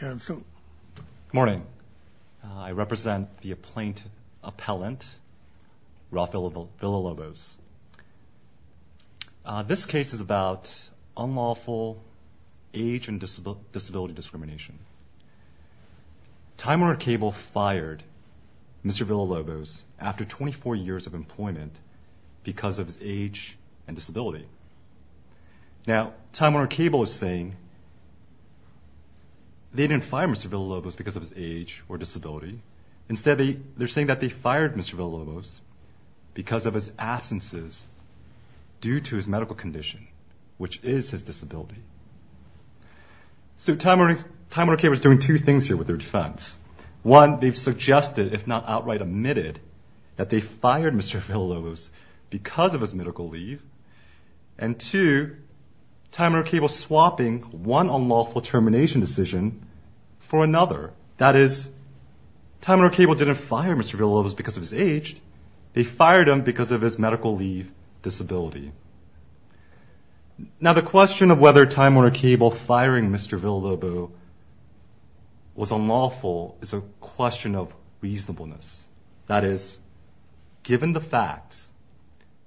Good morning. I represent the appellant Rafael Villalobos. This case is about unlawful age and disability discrimination. Time Warner Cable fired Mr. Villalobos after 24 years of employment because of his age and disability. Now, Time Warner Cable is saying they didn't fire Mr. Villalobos because of his age or disability. Instead, they're saying that they fired Mr. Villalobos because of his absences due to his medical condition, which is his disability. So Time Warner Cable is doing two things here with their defense. One, they've suggested, if not outright admitted, that they fired Mr. Villalobos because of his medical leave. And two, Time Warner Cable is swapping one unlawful termination decision for another. That is, Time Warner Cable didn't fire Mr. Villalobos because of his age. They fired him because of his medical leave disability. Now, the question of whether Time Warner Cable firing Mr. Villalobos was unlawful is a question of reasonableness. That is, given the facts,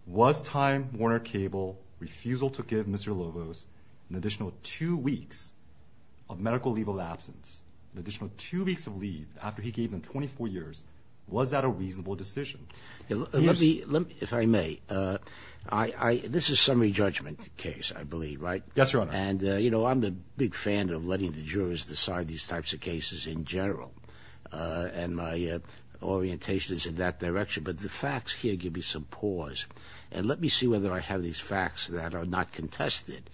was Time Warner Cable refusal to give Mr. Villalobos an additional two weeks of medical leave of absence, an additional two weeks of leave after he gave them 24 years, was that a reasonable decision? Let me, if I may, this is a summary judgment case, I believe, right? Yes, Your Honor. And I'm a big fan of letting the jurors decide these types of cases in general. And my orientation is in that direction. But the facts here give me some pause. And let me see whether I have these facts that are not contested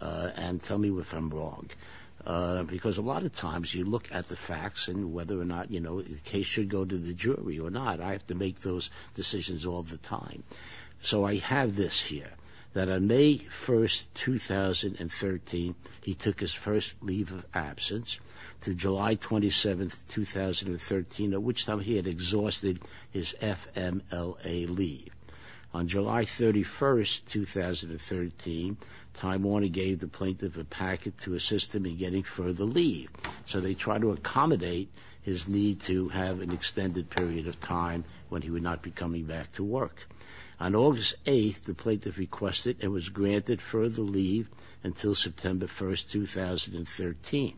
and tell me if I'm wrong. Because a lot of times you look at the facts and whether or not the case should go to the jury or not, I have to make those decisions all the time. So I have this here, that on May 1st, 2013, he took his first leave of absence to July 27th, 2013, at which time he had exhausted his FMLA leave. On July 31st, 2013, Time Warner gave the plaintiff a packet to assist him in getting further leave. So they tried to accommodate his need to have an extended period of time when he would not be coming back to work. On August 8th, the plaintiff requested and was granted further leave until September 1st, 2013.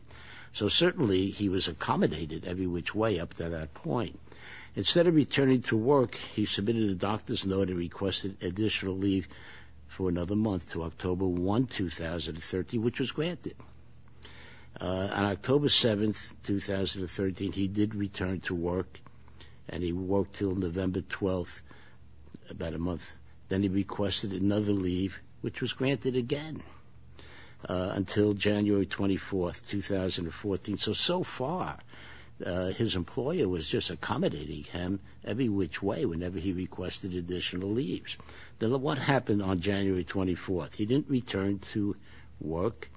So certainly he was accommodated every which way up to that point. Instead of returning to work, he submitted a doctor's note and requested additional leave for another month to October 1, 2013, which was granted. On October 7th, 2013, he did return to work and he worked until November 12th, about a month. Then he requested another leave, which was granted again until January 24th, 2014. So so far his employer was just accommodating him every which way whenever he requested additional leaves. Then what happened on January 24th? He didn't return to work.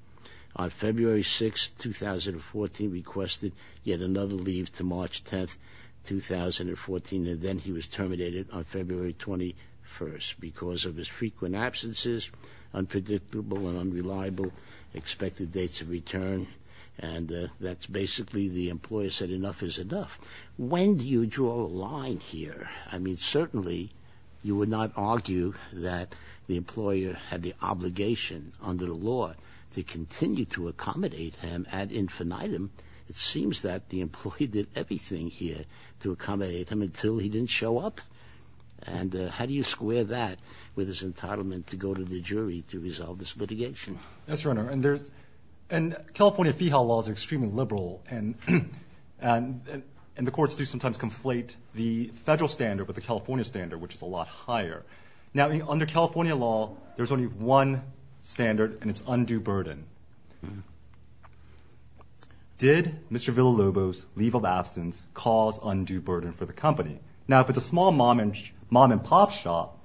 On February 6th, 2014, requested yet another leave to March 10th, 2014, and then he was terminated on February 21st because of his frequent absences, unpredictable and unreliable expected dates of return. And that's basically the employer said enough is enough. When do you draw a line here? I mean, certainly you would not argue that the employer had the obligation under the law to continue to accommodate him ad infinitum. It seems that the employee did everything here to accommodate him until he didn't show up. And how do you square that with his entitlement to go to the jury to resolve this litigation? Yes, Your Honor. And California Fee Howe Law is extremely liberal and the courts do sometimes conflate the federal standard with the California standard, which is a lot higher. Now, under California law, there's only one standard and it's undue burden. Did Mr. Villalobos' leave of absence cause undue burden for the company? Now, if it's a small mom and mom and pop shop,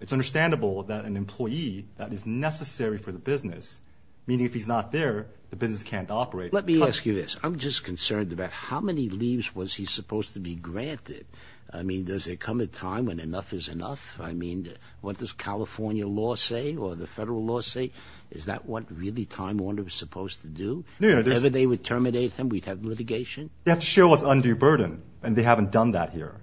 it's understandable that an employee that is necessary for the business, meaning if he's not there, the business can't operate. Let me ask you this. I'm just concerned about how many leaves was he supposed to be granted? I mean, does it come a time when enough is enough? I mean, what does California law say or the federal law say? Is that what really Time Warner was supposed to do? Whatever they would terminate him, we'd have litigation? They have to show us undue burden, and they haven't done that here.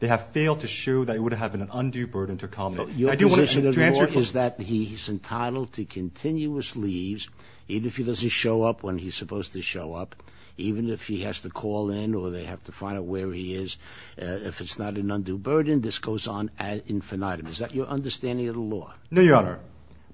They have failed to show that it would have been an undue burden to accommodate. Your position of the law is that he's entitled to continuous leaves, even if he doesn't show up when he's supposed to show up, even if he has to call in or they have to find out where he is. If it's not an undue burden, this goes on ad infinitum. Is that your understanding of the law? No, Your Honor.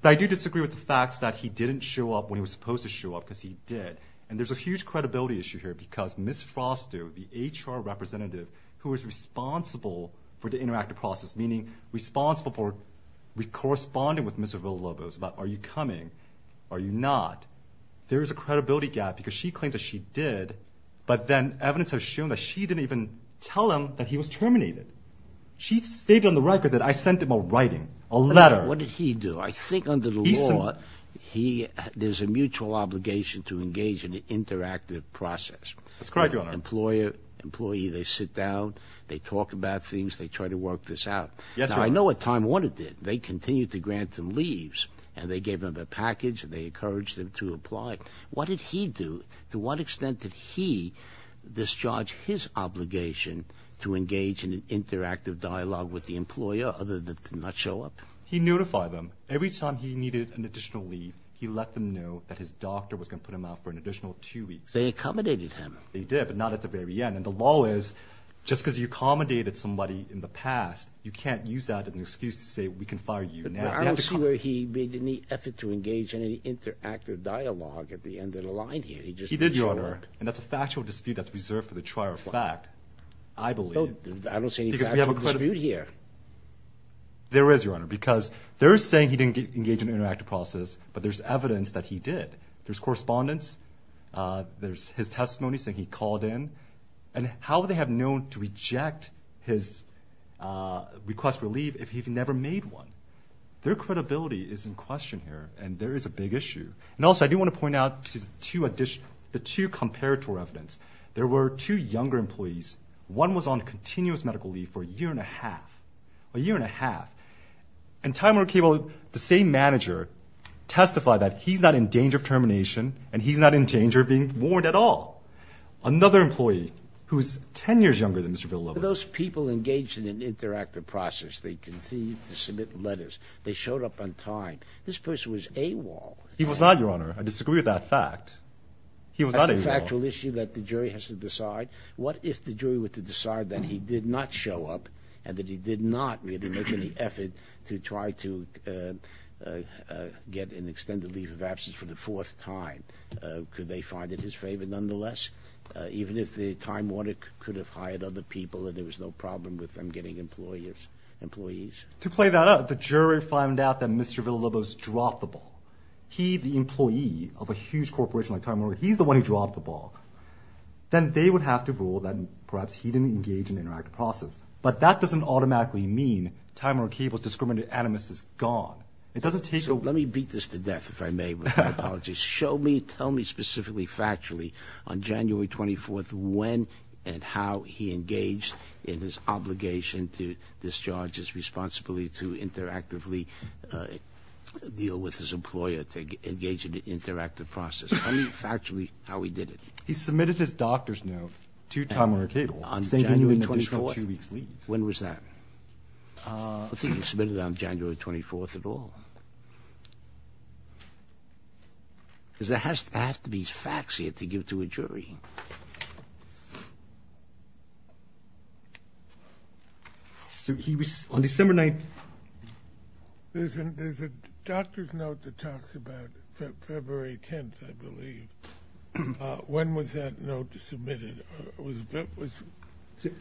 But I do disagree with the facts that he didn't show up when he was supposed to show up because he did. And there's a huge credibility issue here because Ms. Froster, the HR representative who is responsible for the interactive process, meaning responsible for corresponding with Mr. Villalobos about are you coming, are you not? There is a credibility gap because she claims that she did, but then evidence has shown that she didn't even tell him that he was terminated. She stated on the record that I sent him a writing, a letter. What did he do? I think under the law, there's a mutual obligation to engage in an interactive process. That's correct, Your Honor. Employee, they sit down, they talk about things, they try to work this out. Yes, Your Honor. Now, I know at time one it did. They continued to grant him leaves, and they gave him a package, and they encouraged him to apply. What did he do? To what extent did he discharge his obligation to engage in an interactive dialogue with the employer other than to not show up? He notified them. Every time he needed an additional leave, he let them know that his doctor was going to put him out for an additional two weeks. They accommodated him. They did, but not at the very end. And the law is just because you accommodated somebody in the past, you can't use that as an excuse to say we can have another dialogue at the end of the line here. He just didn't show up. He did, Your Honor, and that's a factual dispute that's reserved for the trier of fact, I believe. I don't see any factual dispute here. There is, Your Honor, because they're saying he didn't engage in an interactive process, but there's evidence that he did. There's correspondence, there's his testimony saying he called in, and how would they have known to reject his request for leave if he never made one? Their credibility is in question here, and there is a big issue. And also, I do want to point out the two comparator evidence. There were two younger employees. One was on continuous medical leave for a year and a half. A year and a half. And Time Warner Cable, the same manager, testified that he's not in danger of termination, and he's not in danger of being warned at all. Another employee who's ten years younger than Mr. Villalobos. Those people engaged in an interactive process. They continued to submit letters. They showed up on time. This person was AWOL. He was not, Your Honor. I disagree with that fact. He was not AWOL. That's a factual issue that the jury has to decide. What if the jury were to decide that he did not show up, and that he did not really make any effort to try to get an extended leave of absence for the fourth time? Could they find it his favor, nonetheless? Even if Time Warner could have hired other people and there was no problem with them getting employees? To play that out, the jury found out that Mr. Villalobos dropped the ball. He, the employee of a huge corporation like Time Warner, he's the one who dropped the ball. Then they would have to rule that perhaps he didn't engage in an interactive process. But that doesn't automatically mean Time Warner Cable's discriminated animus is gone. It doesn't take... So let me beat this to death, if I may, with my apologies. Show me, tell me specifically, factually, on January 24th, when and how he engaged in his obligation to discharge his responsibility to interactively deal with his employer to engage in an interactive process. Tell me factually how he did it. He submitted his doctor's note to Time Warner Cable, saying he needed an additional two weeks' leave. When was that? I don't think he submitted it on January 24th at all. Because there has to be facts here to give to a jury. So he was... On December 9th... There's a doctor's note that talks about February 10th, I believe. When was that note submitted?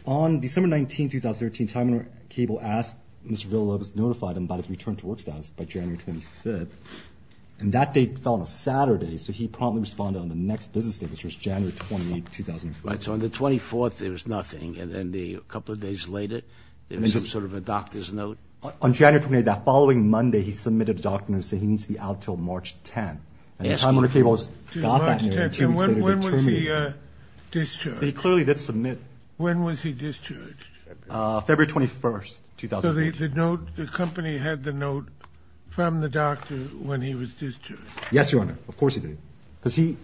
On December 19th, 2013, Time Warner Cable asked Mr. Villalobos, notified him about his return to work status by January 25th. And that date fell on a Saturday, so he promptly responded on the next business day, which was January 28th, 2005. Right, so on the 24th, there was nothing. And then a couple of days later, there was some sort of a doctor's note. On January 28th, that following Monday, he submitted a doctor's note, saying he needs to be out until March 10th. And Time Warner Cable got that note, and two weeks later, determined... When was he discharged? February 21st, 2008. The company had the note from the doctor when he was discharged? Yes, Your Honor. Of course he did. But he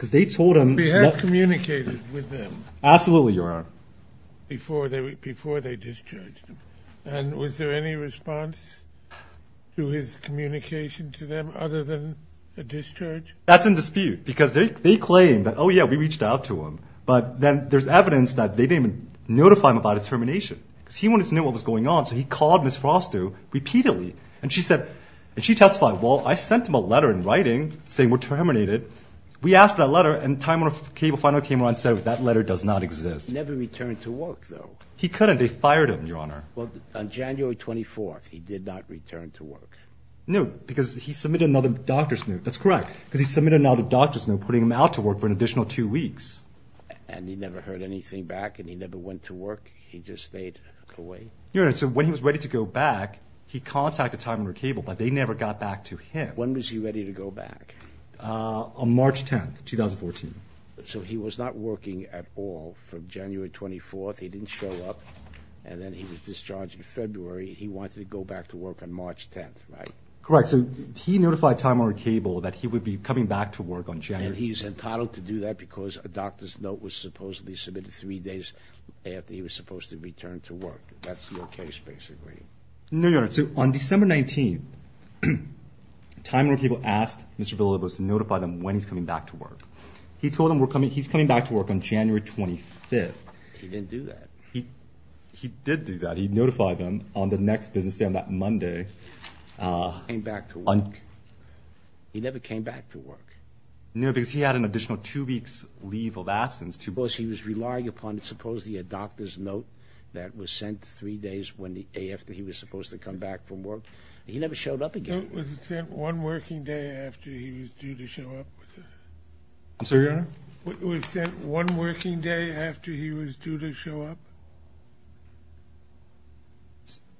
had communicated with them before they discharged him. And was there any response to his communication to them other than a discharge? That's in dispute, because they claim that, oh yeah, we reached out to him. But then there's evidence that they didn't even notify him about his termination. Because he wanted to know what was going on, so he called Ms. Froster repeatedly. And she testified, well, I sent him a letter in writing saying we're terminated. We asked for that letter, and Time Warner Cable finally came around and said, that letter does not exist. He never returned to work, though. And he never heard anything back, and he never went to work? He just stayed away? Your Honor, so when he was ready to go back, he contacted Time Warner Cable, but they never got back to him. When was he ready to go back? On March 10th, 2014. So he was not working at all from January 24th. He didn't show up, and then he was discharged in February. He wanted to go back to work on March 10th, right? Correct. So he notified Time Warner Cable that he would be coming back to work on January... So he's entitled to do that because a doctor's note was supposedly submitted three days after he was supposed to return to work. That's your case, basically. No, Your Honor. So on December 19th, Time Warner Cable asked Mr. Villalobos to notify them when he's coming back to work. He told them he's coming back to work on January 25th. He didn't do that. He did do that. He notified them on the next business day on that Monday. He never came back to work? No, because he had an additional two weeks' leave of absence. He was relying upon supposedly a doctor's note that was sent three days after he was supposed to come back from work. He never showed up again. Was it sent one working day after he was due to show up?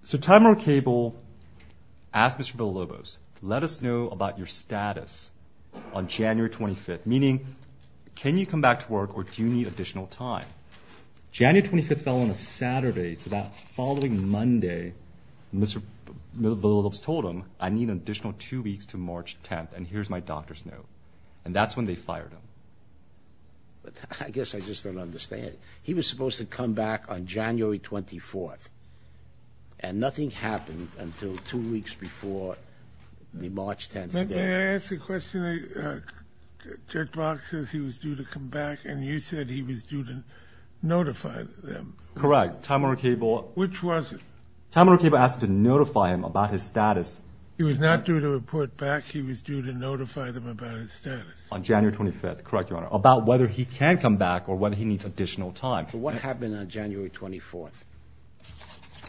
So Time Warner Cable asked Mr. Villalobos, let us know about your status on January 25th. Meaning, can you come back to work or do you need additional time? January 25th fell on a Saturday, so that following Monday, Mr. Villalobos told him, I need an additional two weeks to March 10th, and here's my doctor's note. And that's when they fired him. I guess I just don't understand. He was supposed to come back on January 24th, and nothing happened until two weeks before the March 10th date. May I ask a question? Judge Box says he was due to come back, and you said he was due to notify them. Which was it? He was not due to report back. He was due to notify them about his status on January 25th, correct, Your Honor, about whether he can come back or whether he needs additional time. So what happened on January 24th?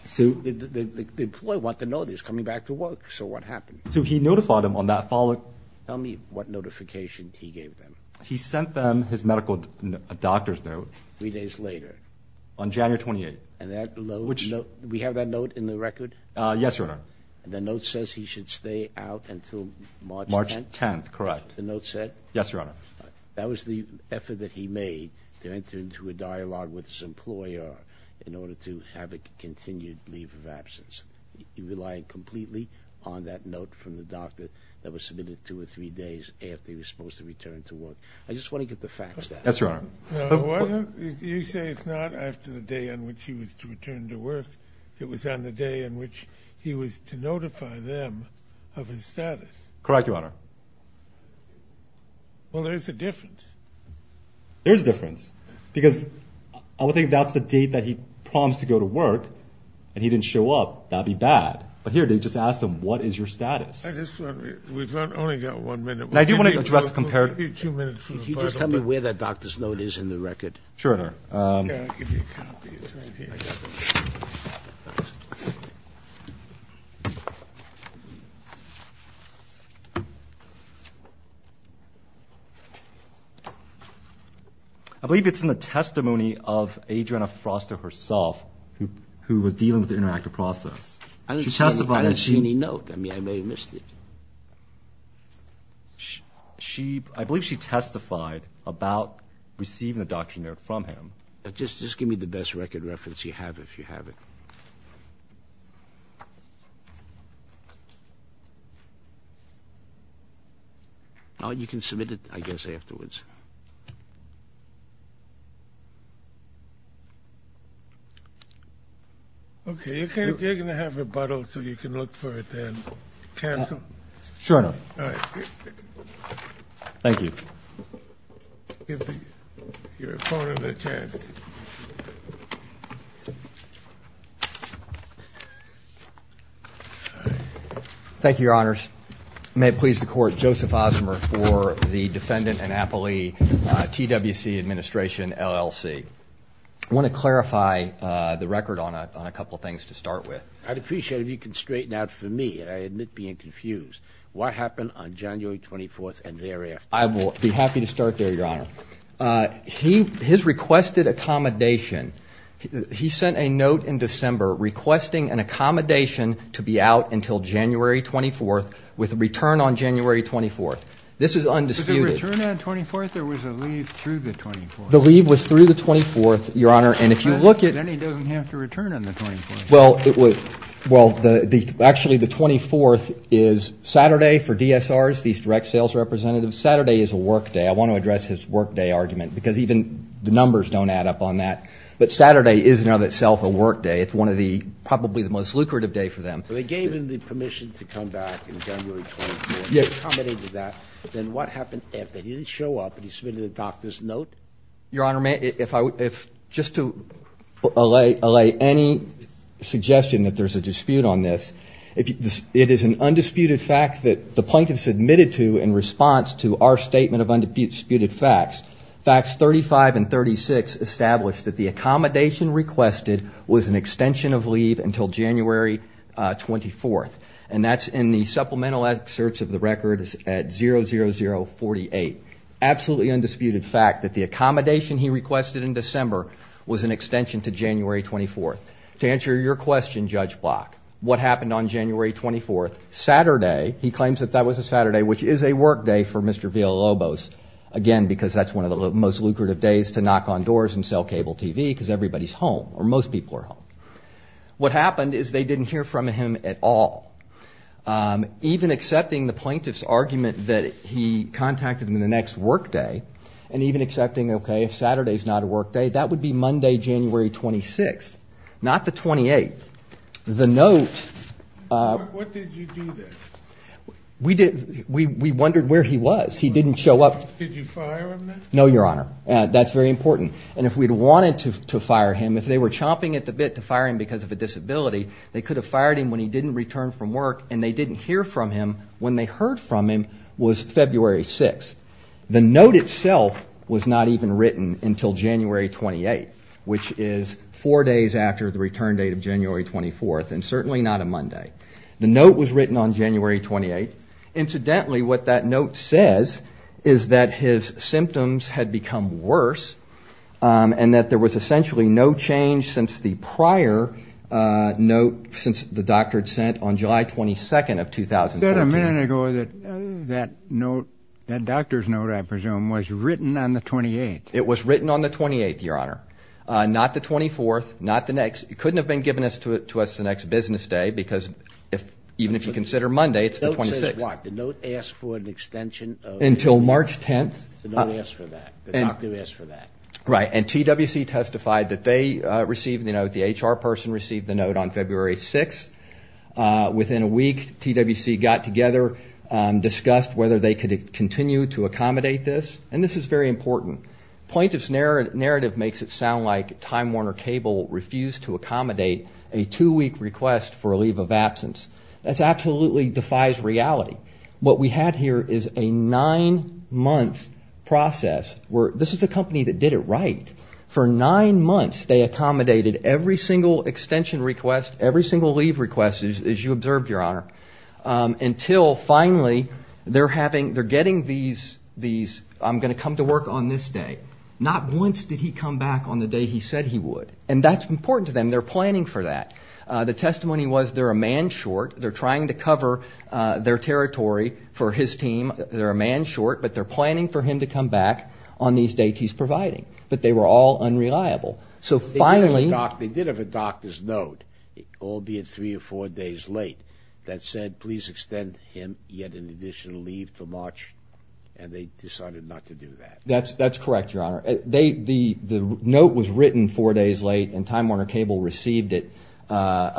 The employee wanted to know that he was coming back to work, so what happened? So he notified them on that following... He sent them his medical doctor's note on January 28th. We have that note in the record? Yes, Your Honor. And the note says he should stay out until March 10th? That was the effort that he made to enter into a dialogue with his employer in order to have a continued leave of absence. He relied completely on that note from the doctor that was submitted two or three days after he was supposed to return to work. I just want to get the facts down. Yes, Your Honor. You say it's not after the day on which he was to return to work. It was on the day on which he was to notify them of his status. Correct, Your Honor. Well, there is a difference. There is a difference, because I would think that's the date that he promised to go to work, and he didn't show up. That would be bad. But here, they just asked him, what is your status? We've only got one minute. I do want to address the comparison. Can you just tell me where that doctor's note is in the record? Sure, Your Honor. I believe it's in the testimony of Adriana Froster herself, who was dealing with the interactive process. I didn't see any note. I mean, I may have missed it. I believe she testified about receiving a doctor's note from him. Just give me the best record reference you have, if you have it. You can submit it, I guess, afterwards. Okay. You're going to have rebuttal, so you can look for it then. Cancel? Sure enough. Thank you. Give your opponent a chance. Thank you, Your Honor. May it please the Court, Joseph Osmer for the Defendant Annapolis TWC Administration, LLC. I want to clarify the record on a couple of things to start with. I'd appreciate it if you could straighten out for me, and I admit being confused, what happened on January 24th and thereafter? I will be happy to start there, Your Honor. His requested accommodation, he sent a note in January 24th with a return on January 24th. This is undisputed. Was there a return on the 24th or was there a leave through the 24th? The leave was through the 24th, Your Honor. And if you look at Actually, the 24th is Saturday for DSRs, these direct sales representatives. Saturday is a work day. I want to address his work day argument, because even the numbers don't add up on that. But Saturday is in and of itself a work day. It's one of the probably the most lucrative day for them. They gave him the permission to come back in January 24th. He accommodated that. Then what happened after? He didn't show up, but he submitted a doctor's note? Your Honor, just to allay any suggestion that there's a dispute on this, it is an undisputed fact that the plaintiff submitted to in response to our established that the accommodation requested was an extension of leave until January 24th. And that's in the supplemental excerpts of the record at 00048. Absolutely undisputed fact that the accommodation he requested in December was an extension to January 24th. To answer your question, Judge Block, what happened on January 24th? Saturday, he claims that that was a Saturday, which is a work day for Mr. Villalobos. Again, because that's one of the most lucrative days to knock on doors and sell cable TV because everybody's home or most people are home. What happened is they didn't hear from him at all. Even accepting the plaintiff's argument that he contacted him in the next work day and even accepting, OK, if Saturday is not a work day, that would be Monday, January 26th, not the 28th. The note... We wondered where he was. He didn't show up. No, Your Honor. That's very important. And if we'd wanted to fire him, if they were chomping at the bit to fire him because of a disability, they could have fired him when he didn't return from work and they didn't hear from him when they heard from him was February 6th. The note itself was not even written until January 28th, which is four days after the return date of January 24th. And certainly not a Monday. The note was written on January 28th. Incidentally, what that note says is that his symptoms had become worse and that there was essentially no change since the prior note since the doctor had sent on July 22nd of 2014. Is that a minute ago that that note, that doctor's note, I presume, was written on the 28th? It was written on the 28th, Your Honor. The note says what? The note asks for an extension of... Until March 10th. The note asks for that. The doctor asks for that. Right. And TWC testified that they received the note. The HR person received the note on February 6th. Within a week, TWC got together, discussed whether they could continue to accommodate this. And this is very important. The plaintiff's narrative makes it sound like Time Warner Cable refused to accommodate a two-week request for a leave of absence. That absolutely defies reality. What we have here is a nine-month process. This is a company that did it right. For nine months, they accommodated every single extension request, every single leave request, as you observed, Your Honor, until finally they're getting these, I'm going to come to work on this day. Not once did he come back on the day he said he would. And that's important to them. They're planning for that. The testimony was they're a man short. They're trying to cover their territory for his team. They're a man short, but they're planning for him to come back on these dates he's providing. But they were all unreliable. They did have a doctor's note, albeit three or four days late, that said, please extend him yet an additional leave for March. And they decided not to do that. That's correct, Your Honor. The note was written four days late and Time Warner Cable received it a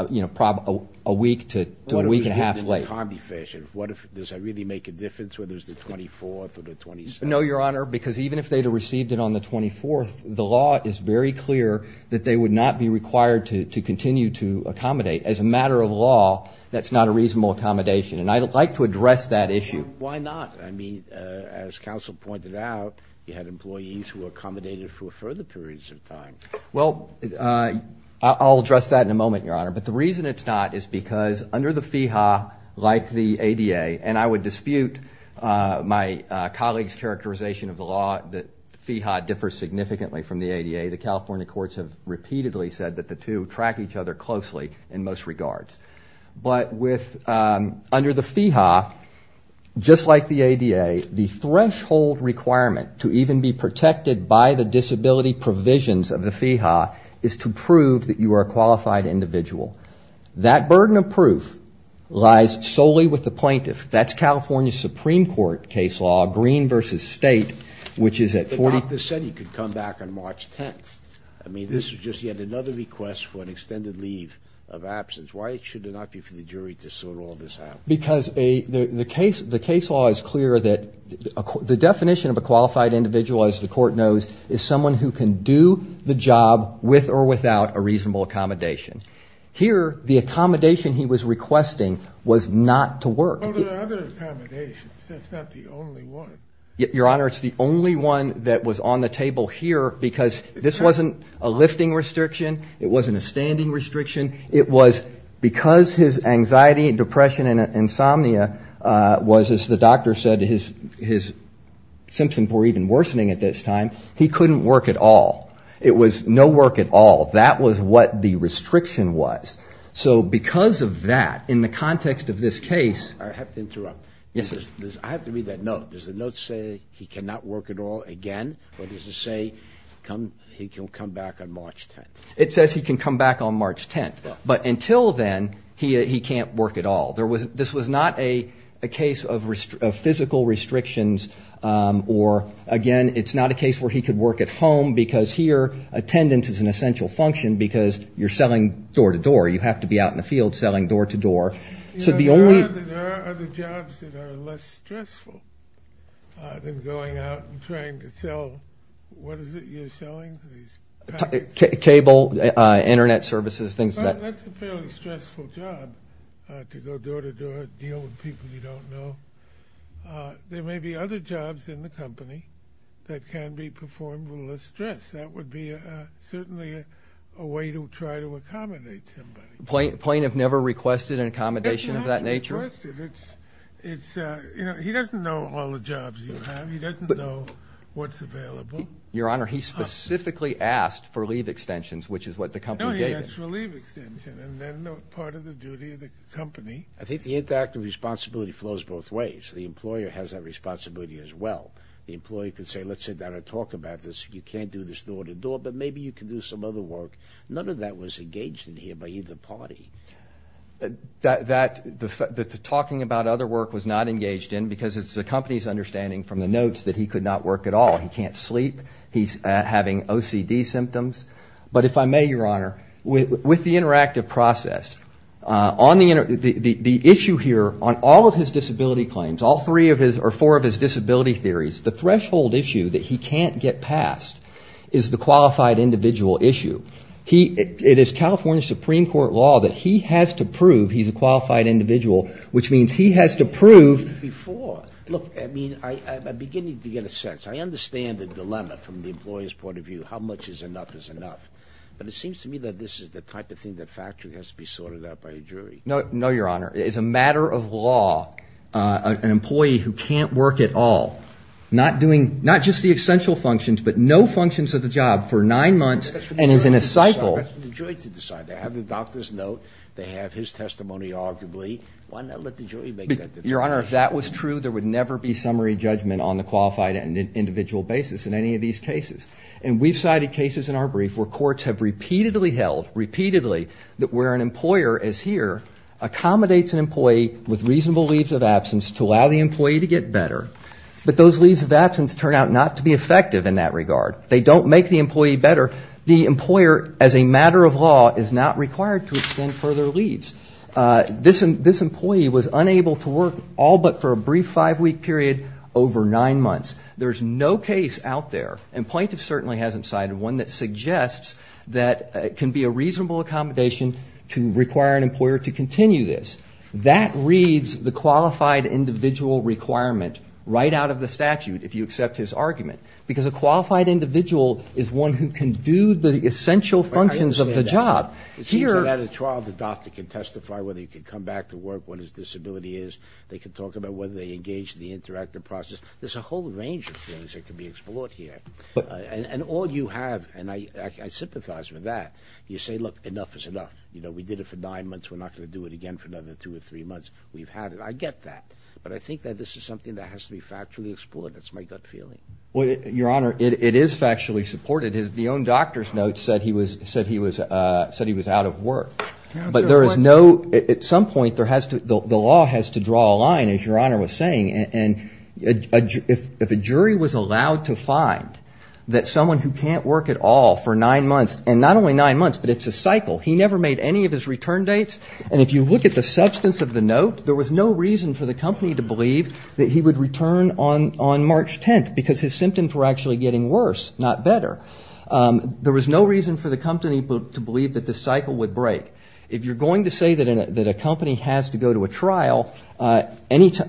week to a week and a half late. Does that really make a difference whether it's the 24th or the 27th? No, Your Honor, because even if they'd have received it on the 24th, the law is very clear that they would not be required to continue to accommodate. As a matter of law, that's not a reasonable accommodation. And I'd like to address that issue. Why not? I mean, as counsel pointed out, you had employees who accommodated for further periods of time. Well, I'll address that in a moment, Your Honor. But the reason it's not is because under the FEHA, like the ADA, and I would dispute my colleague's characterization of the law that FEHA differs significantly from the ADA. The California courts have repeatedly said that the two track each other closely in most regards. But under the FEHA, just like the ADA, the threshold requirement to even be protected by the disability provisions of the FEHA is to prove that you are a qualified individual. That burden of proof lies solely with the plaintiff. That's California Supreme Court case law, Green v. State, which is at 40. But the doctor said he could come back on March 10th. I mean, this is just yet another request for an extended leave of absence. Why should it not be for the jury to sort all this out? Because the case law is clear that the definition of a qualified individual, as the court knows, is someone who can do the job with or without a reasonable accommodation. Here, the accommodation he was requesting was not to work. But there are other accommodations. That's not the only one. Your Honor, it's the only one that was on the table here because this wasn't a lifting restriction. It wasn't a standing restriction. It was because his anxiety and depression and insomnia was, as the doctor said, his symptoms were even worsening at this time, he couldn't work at all. It was no work at all. That was what the restriction was. So because of that, in the context of this case... I have to interrupt. I have to read that note. Does the note say he cannot work at all again? Or does it say he can come back on March 10th? It says he can come back on March 10th. But until then, he can't work at all. This was not a case of physical restrictions. Or, again, it's not a case where he could work at home because here attendance is an essential function because you're selling door-to-door. You have to be out in the field selling door-to-door. There are other jobs that are less stressful than going out and trying to sell... What is it you're selling? Cable, Internet services, things like that. That's a fairly stressful job to go door-to-door, deal with people you don't know. There may be other jobs in the company that can be performed with less stress. That would be certainly a way to try to accommodate somebody. The plaintiff never requested an accommodation of that nature? He doesn't know all the jobs you have. He doesn't know what's available. Your Honor, he specifically asked for leave extensions, which is what the company gave him. Yes, relief extension, and then part of the duty of the company. I think the interactive responsibility flows both ways. The employer has that responsibility as well. The employee could say, let's sit down and talk about this. You can't do this door-to-door, but maybe you can do some other work. None of that was engaged in here by either party. The talking about other work was not engaged in because it's the company's understanding from the notes that he could not work at all. He can't sleep. He's having OCD symptoms. But if I may, Your Honor, with the interactive process, the issue here on all of his disability claims, all three or four of his disability theories, the threshold issue that he can't get past is the qualified individual issue. It is California Supreme Court law that he has to prove he's a qualified individual, which means he has to prove that he's a qualified individual. I mean, I'm beginning to get a sense. I understand the dilemma from the employer's point of view, how much is enough is enough. But it seems to me that this is the type of thing that factually has to be sorted out by a jury. No, Your Honor. It's a matter of law, an employee who can't work at all, not just the essential functions, but no functions of the job for nine months and is in a cycle. That's for the jury to decide. They have the doctor's note. They have his testimony, arguably. Why not let the jury make that decision? Your Honor, if that was true, there would never be summary judgment on the qualified individual basis in any of these cases. And we've cited cases in our brief where courts have repeatedly held, repeatedly, that where an employer is here, accommodates an employee with reasonable leaves of absence to allow the employee to get better. But those leaves of absence turn out not to be effective in that regard. They don't make the employee better. The employer, as a matter of law, is not required to extend further leaves. This employee was unable to work all but for a brief five-week period over nine months. There's no case out there, and plaintiff certainly hasn't cited one, that suggests that it can be a reasonable accommodation to require an employer to continue this. That reads the qualified individual requirement right out of the statute, if you accept his argument. Because a qualified individual is one who can do the essential functions of the job. It seems that at a trial the doctor can testify whether he can come back to work, what his disability is. They can talk about whether they engage in the interactive process. There's a whole range of things that can be explored here. And all you have, and I sympathize with that, you say, look, enough is enough. We did it for nine months. We're not going to do it again for another two or three months. We've had it. I get that. But I think that this is something that has to be factually explored. That's my gut feeling. Well, Your Honor, it is factually supported. The own doctor's note said he was out of work. But there is no, at some point, the law has to draw a line, as Your Honor was saying. And if a jury was allowed to find that someone who can't work at all for nine months, and not only nine months, but it's a cycle, he never made any of his return dates. And if you look at the substance of the note, there was no reason for the company to believe that he would return on March 10th, because his symptoms were actually getting worse, not better. There was no reason for the company to believe that this cycle would break. If you're going to say that a company has to go to a trial, if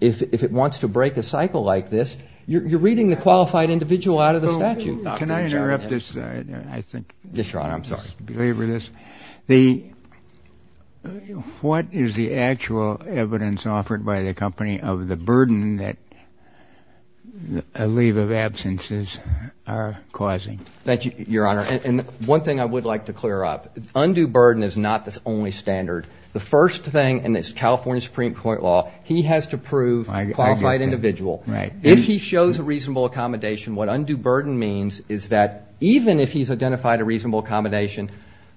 it wants to break a cycle like this, you're reading the qualified individual out of the statute. Can I interrupt this? Yes, Your Honor. I'm sorry. What is the actual evidence offered by the company of the burden that a leave of absences are causing? Thank you, Your Honor. And one thing I would like to clear up, undue burden is not the only standard. The first thing in this California Supreme Court law, he has to prove qualified individual. If he shows a reasonable accommodation, what undue burden means is that even if he's identified a reasonable accommodation,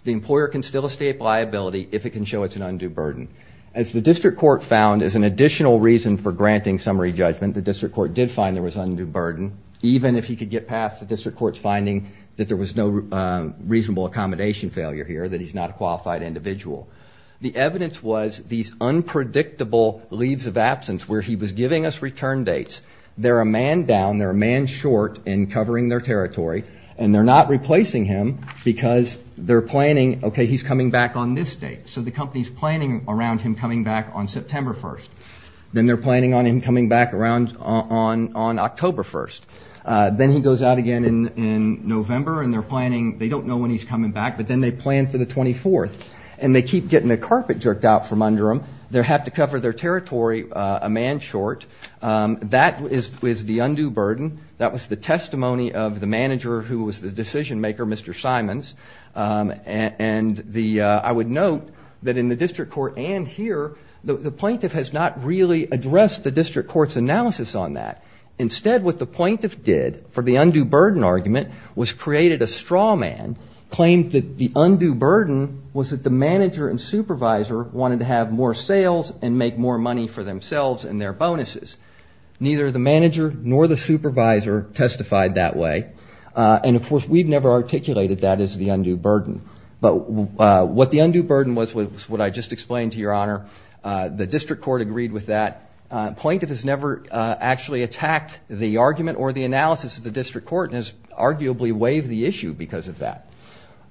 the employer can still estate liability if it can show it's an undue burden. As the district court found as an additional reason for granting summary judgment, the district court did find there was undue burden, even if he could get past the district court's finding that there was no reasonable accommodation failure here, that he's not a qualified individual. The evidence was these unpredictable leaves of absence where he was giving us return dates. They're a man down. They're a man short in covering their territory. And they're not replacing him because they're planning, OK, he's coming back on this date. So the company's planning around him coming back on September 1st. Then they're planning on him coming back around on October 1st. Then he goes out again in November, and they're planning, they don't know when he's coming back, but then they plan for the 24th. And they keep getting their carpet jerked out from under them. They have to cover their territory a man short. That is the undue burden. That was the testimony of the manager who was the decision maker, Mr. Simons. And I would note that in the district court and here, the plaintiff has not really addressed the district court's analysis on that. Instead, what the plaintiff did for the undue burden argument was created a straw man, claimed that the undue burden was that the manager and supervisor wanted to have more sales and make more money for themselves and their bonuses. Neither the manager nor the supervisor testified that way. And of course, we've never articulated that as the undue burden. But what the undue burden was, what I just explained to your honor, the district court agreed with that. Plaintiff has never actually attacked the argument or the analysis of the district court and has arguably waived the issue because of that.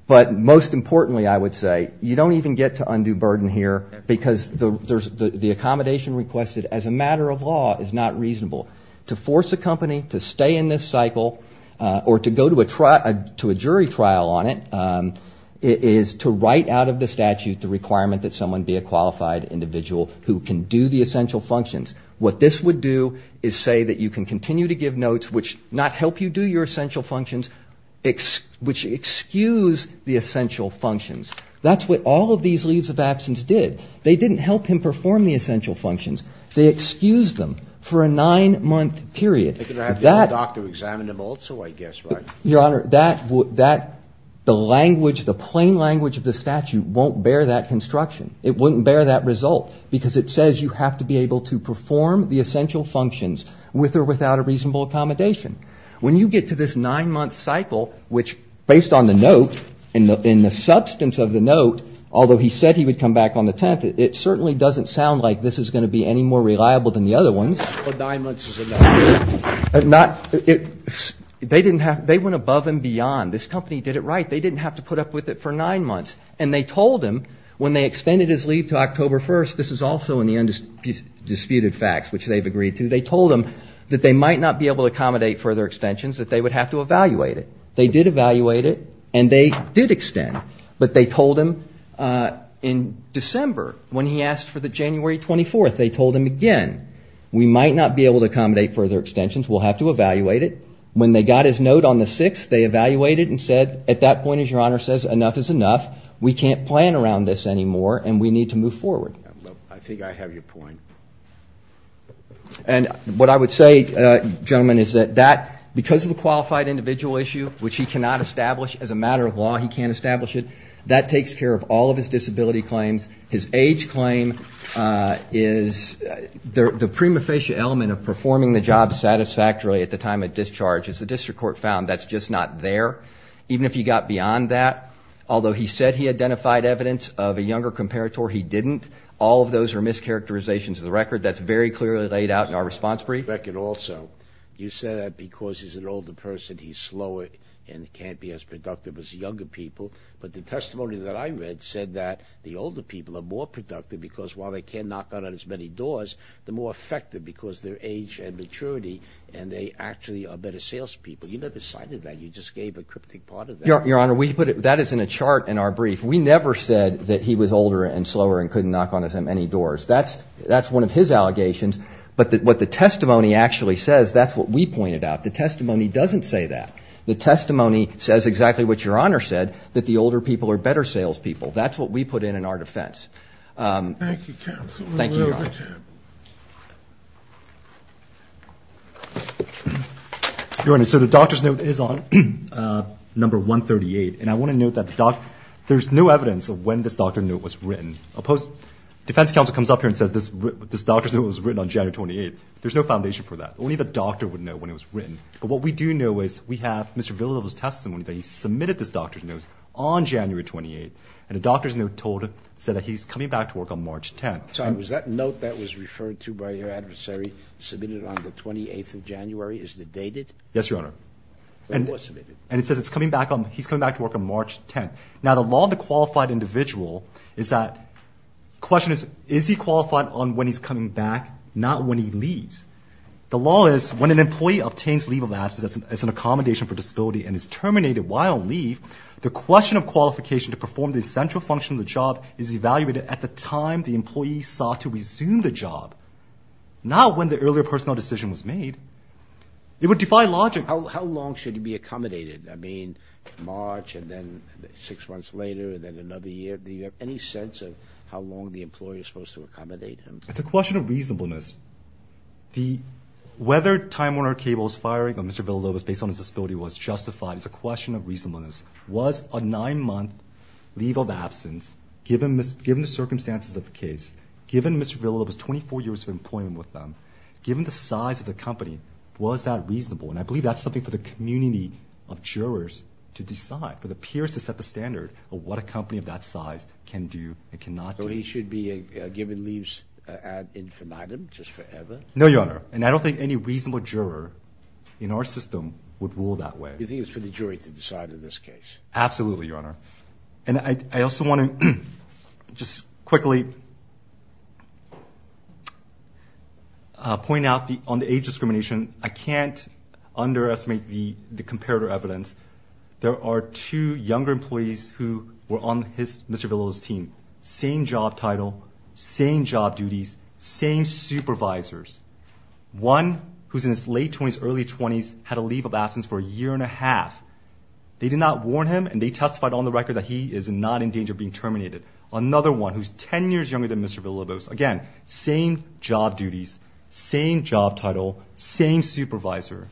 But most importantly, I would say, you don't even get to undue burden here because there's the accommodation requested as a matter of law is not reasonable. To force a company to stay in this cycle or to go to a jury trial on it is to write out of the statute the requirement that someone be a qualified individual who can do the essential functions. What this would do is say that you can continue to give notes which not help you do your essential functions, which excuse the essential functions. That's what all of these leaves of absence did. They didn't help him perform the essential functions. They excused them for a nine-month period. Your Honor, that, the language, the plain language of the statute won't bear that construction. It wouldn't bear that result because it says you have to be able to perform the essential functions with or without a reasonable accommodation. When you get to this nine-month cycle, which based on the note and the substance of the note, although he said he would come back on the 10th, it certainly doesn't sound like this is going to be any more reliable than the other ones. They went above and beyond. This company did it right. They didn't have to put up with it for nine months. And they told him when they extended his leave to October 1st, this is also in the undisputed facts, which they've agreed to, they told him that they might not be able to accommodate further extensions, that they would have to evaluate it. They did evaluate it, and they did extend. But they told him in December, when he asked for the January 24th, they told him again, we might not be able to accommodate further extensions. We'll have to evaluate it. When they got his note on the 6th, they evaluated it and said, at that point, as Your Honor says, enough is enough. We can't plan around this anymore, and we need to move forward. And what I would say, gentlemen, is that because of the qualified individual issue, which he cannot establish as a matter of law, he can't establish it, that takes care of all of his disability claims. His age claim is the prima facie element of performing the job satisfactorily at the time of discharge, as the district court found, that's just not there, even if he got beyond that. Although he said he identified evidence of a younger comparator, he didn't. All of those are mischaracterizations of the record. That's very clearly laid out in our response brief. You said that because he's an older person, he's slower and can't be as productive as younger people. But the testimony that I read said that the older people are more productive, because while they can't knock on as many doors, they're more effective because of their age and maturity, and they actually are better salespeople. You never cited that. You just gave a cryptic part of that. Your Honor, that is in a chart in our brief. We never said that he was older and slower and couldn't knock on as many doors. That's one of his allegations. But what the testimony actually says, that's what we pointed out. The testimony doesn't say that. The testimony says exactly what Your Honor said, that the older people are better salespeople. That's what we put in in our defense. Your Honor, so the doctor's note is on number 138. And I want to note that there's no evidence of when this doctor's note was written. Defense counsel comes up here and says this doctor's note was written on January 28. There's no foundation for that. Only the doctor would know when it was written. But what we do know is we have Mr. Villalobos' testimony that he submitted this doctor's note on January 28. And the doctor's note said that he's coming back to work on March 10. Was that note that was referred to by your adversary submitted on the 28th of January? Is it dated? Yes, Your Honor. And it says he's coming back to work on March 10. Now, the law of the qualified individual is that question is, is he qualified on when he's coming back, not when he leaves? The law is when an employee obtains leave of absence as an accommodation for disability and is terminated while on leave, the question of qualification to perform the essential function of the job is evaluated at the time the employee sought to resume the job, not when the earlier personnel decision was made. It would defy logic. How long should he be accommodated? I mean, March and then six months later and then another year? Do you have any sense of how long the employee is supposed to accommodate him? It's a question of reasonableness. Whether Time Warner Cable is firing on Mr. Villalobos based on his disability was justified. It's a question of reasonableness. Was a nine-month leave of absence, given the circumstances of the case, given Mr. Villalobos' 24 years of employment with them, given the size of the company, was that reasonable? And I believe that's something for the community of jurors to decide, for the peers to set the standard of what a company of that size can do and cannot do. So he should be given leave ad infinitum, just forever? No, Your Honor. And I don't think any reasonable juror in our system would rule that way. You think it's for the jury to decide in this case? Absolutely, Your Honor. And I also want to just quickly point out on the age discrimination, I can't underestimate the comparative evidence. There are two younger employees who were on Mr. Villalobos' team. Same job title, same job duties, same supervisors. One who's in his late 20s, early 20s, had a leave of absence for a year and a half. They did not warn him, and they testified on the record that he is not in danger of being terminated. Another one who's 10 years younger than Mr. Villalobos, again, same job duties, same job title, same supervisor.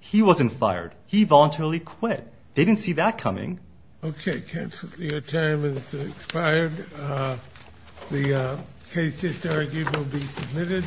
He wasn't fired. He voluntarily quit. They didn't see that coming. Okay, counsel, your time has expired. The case history will be submitted.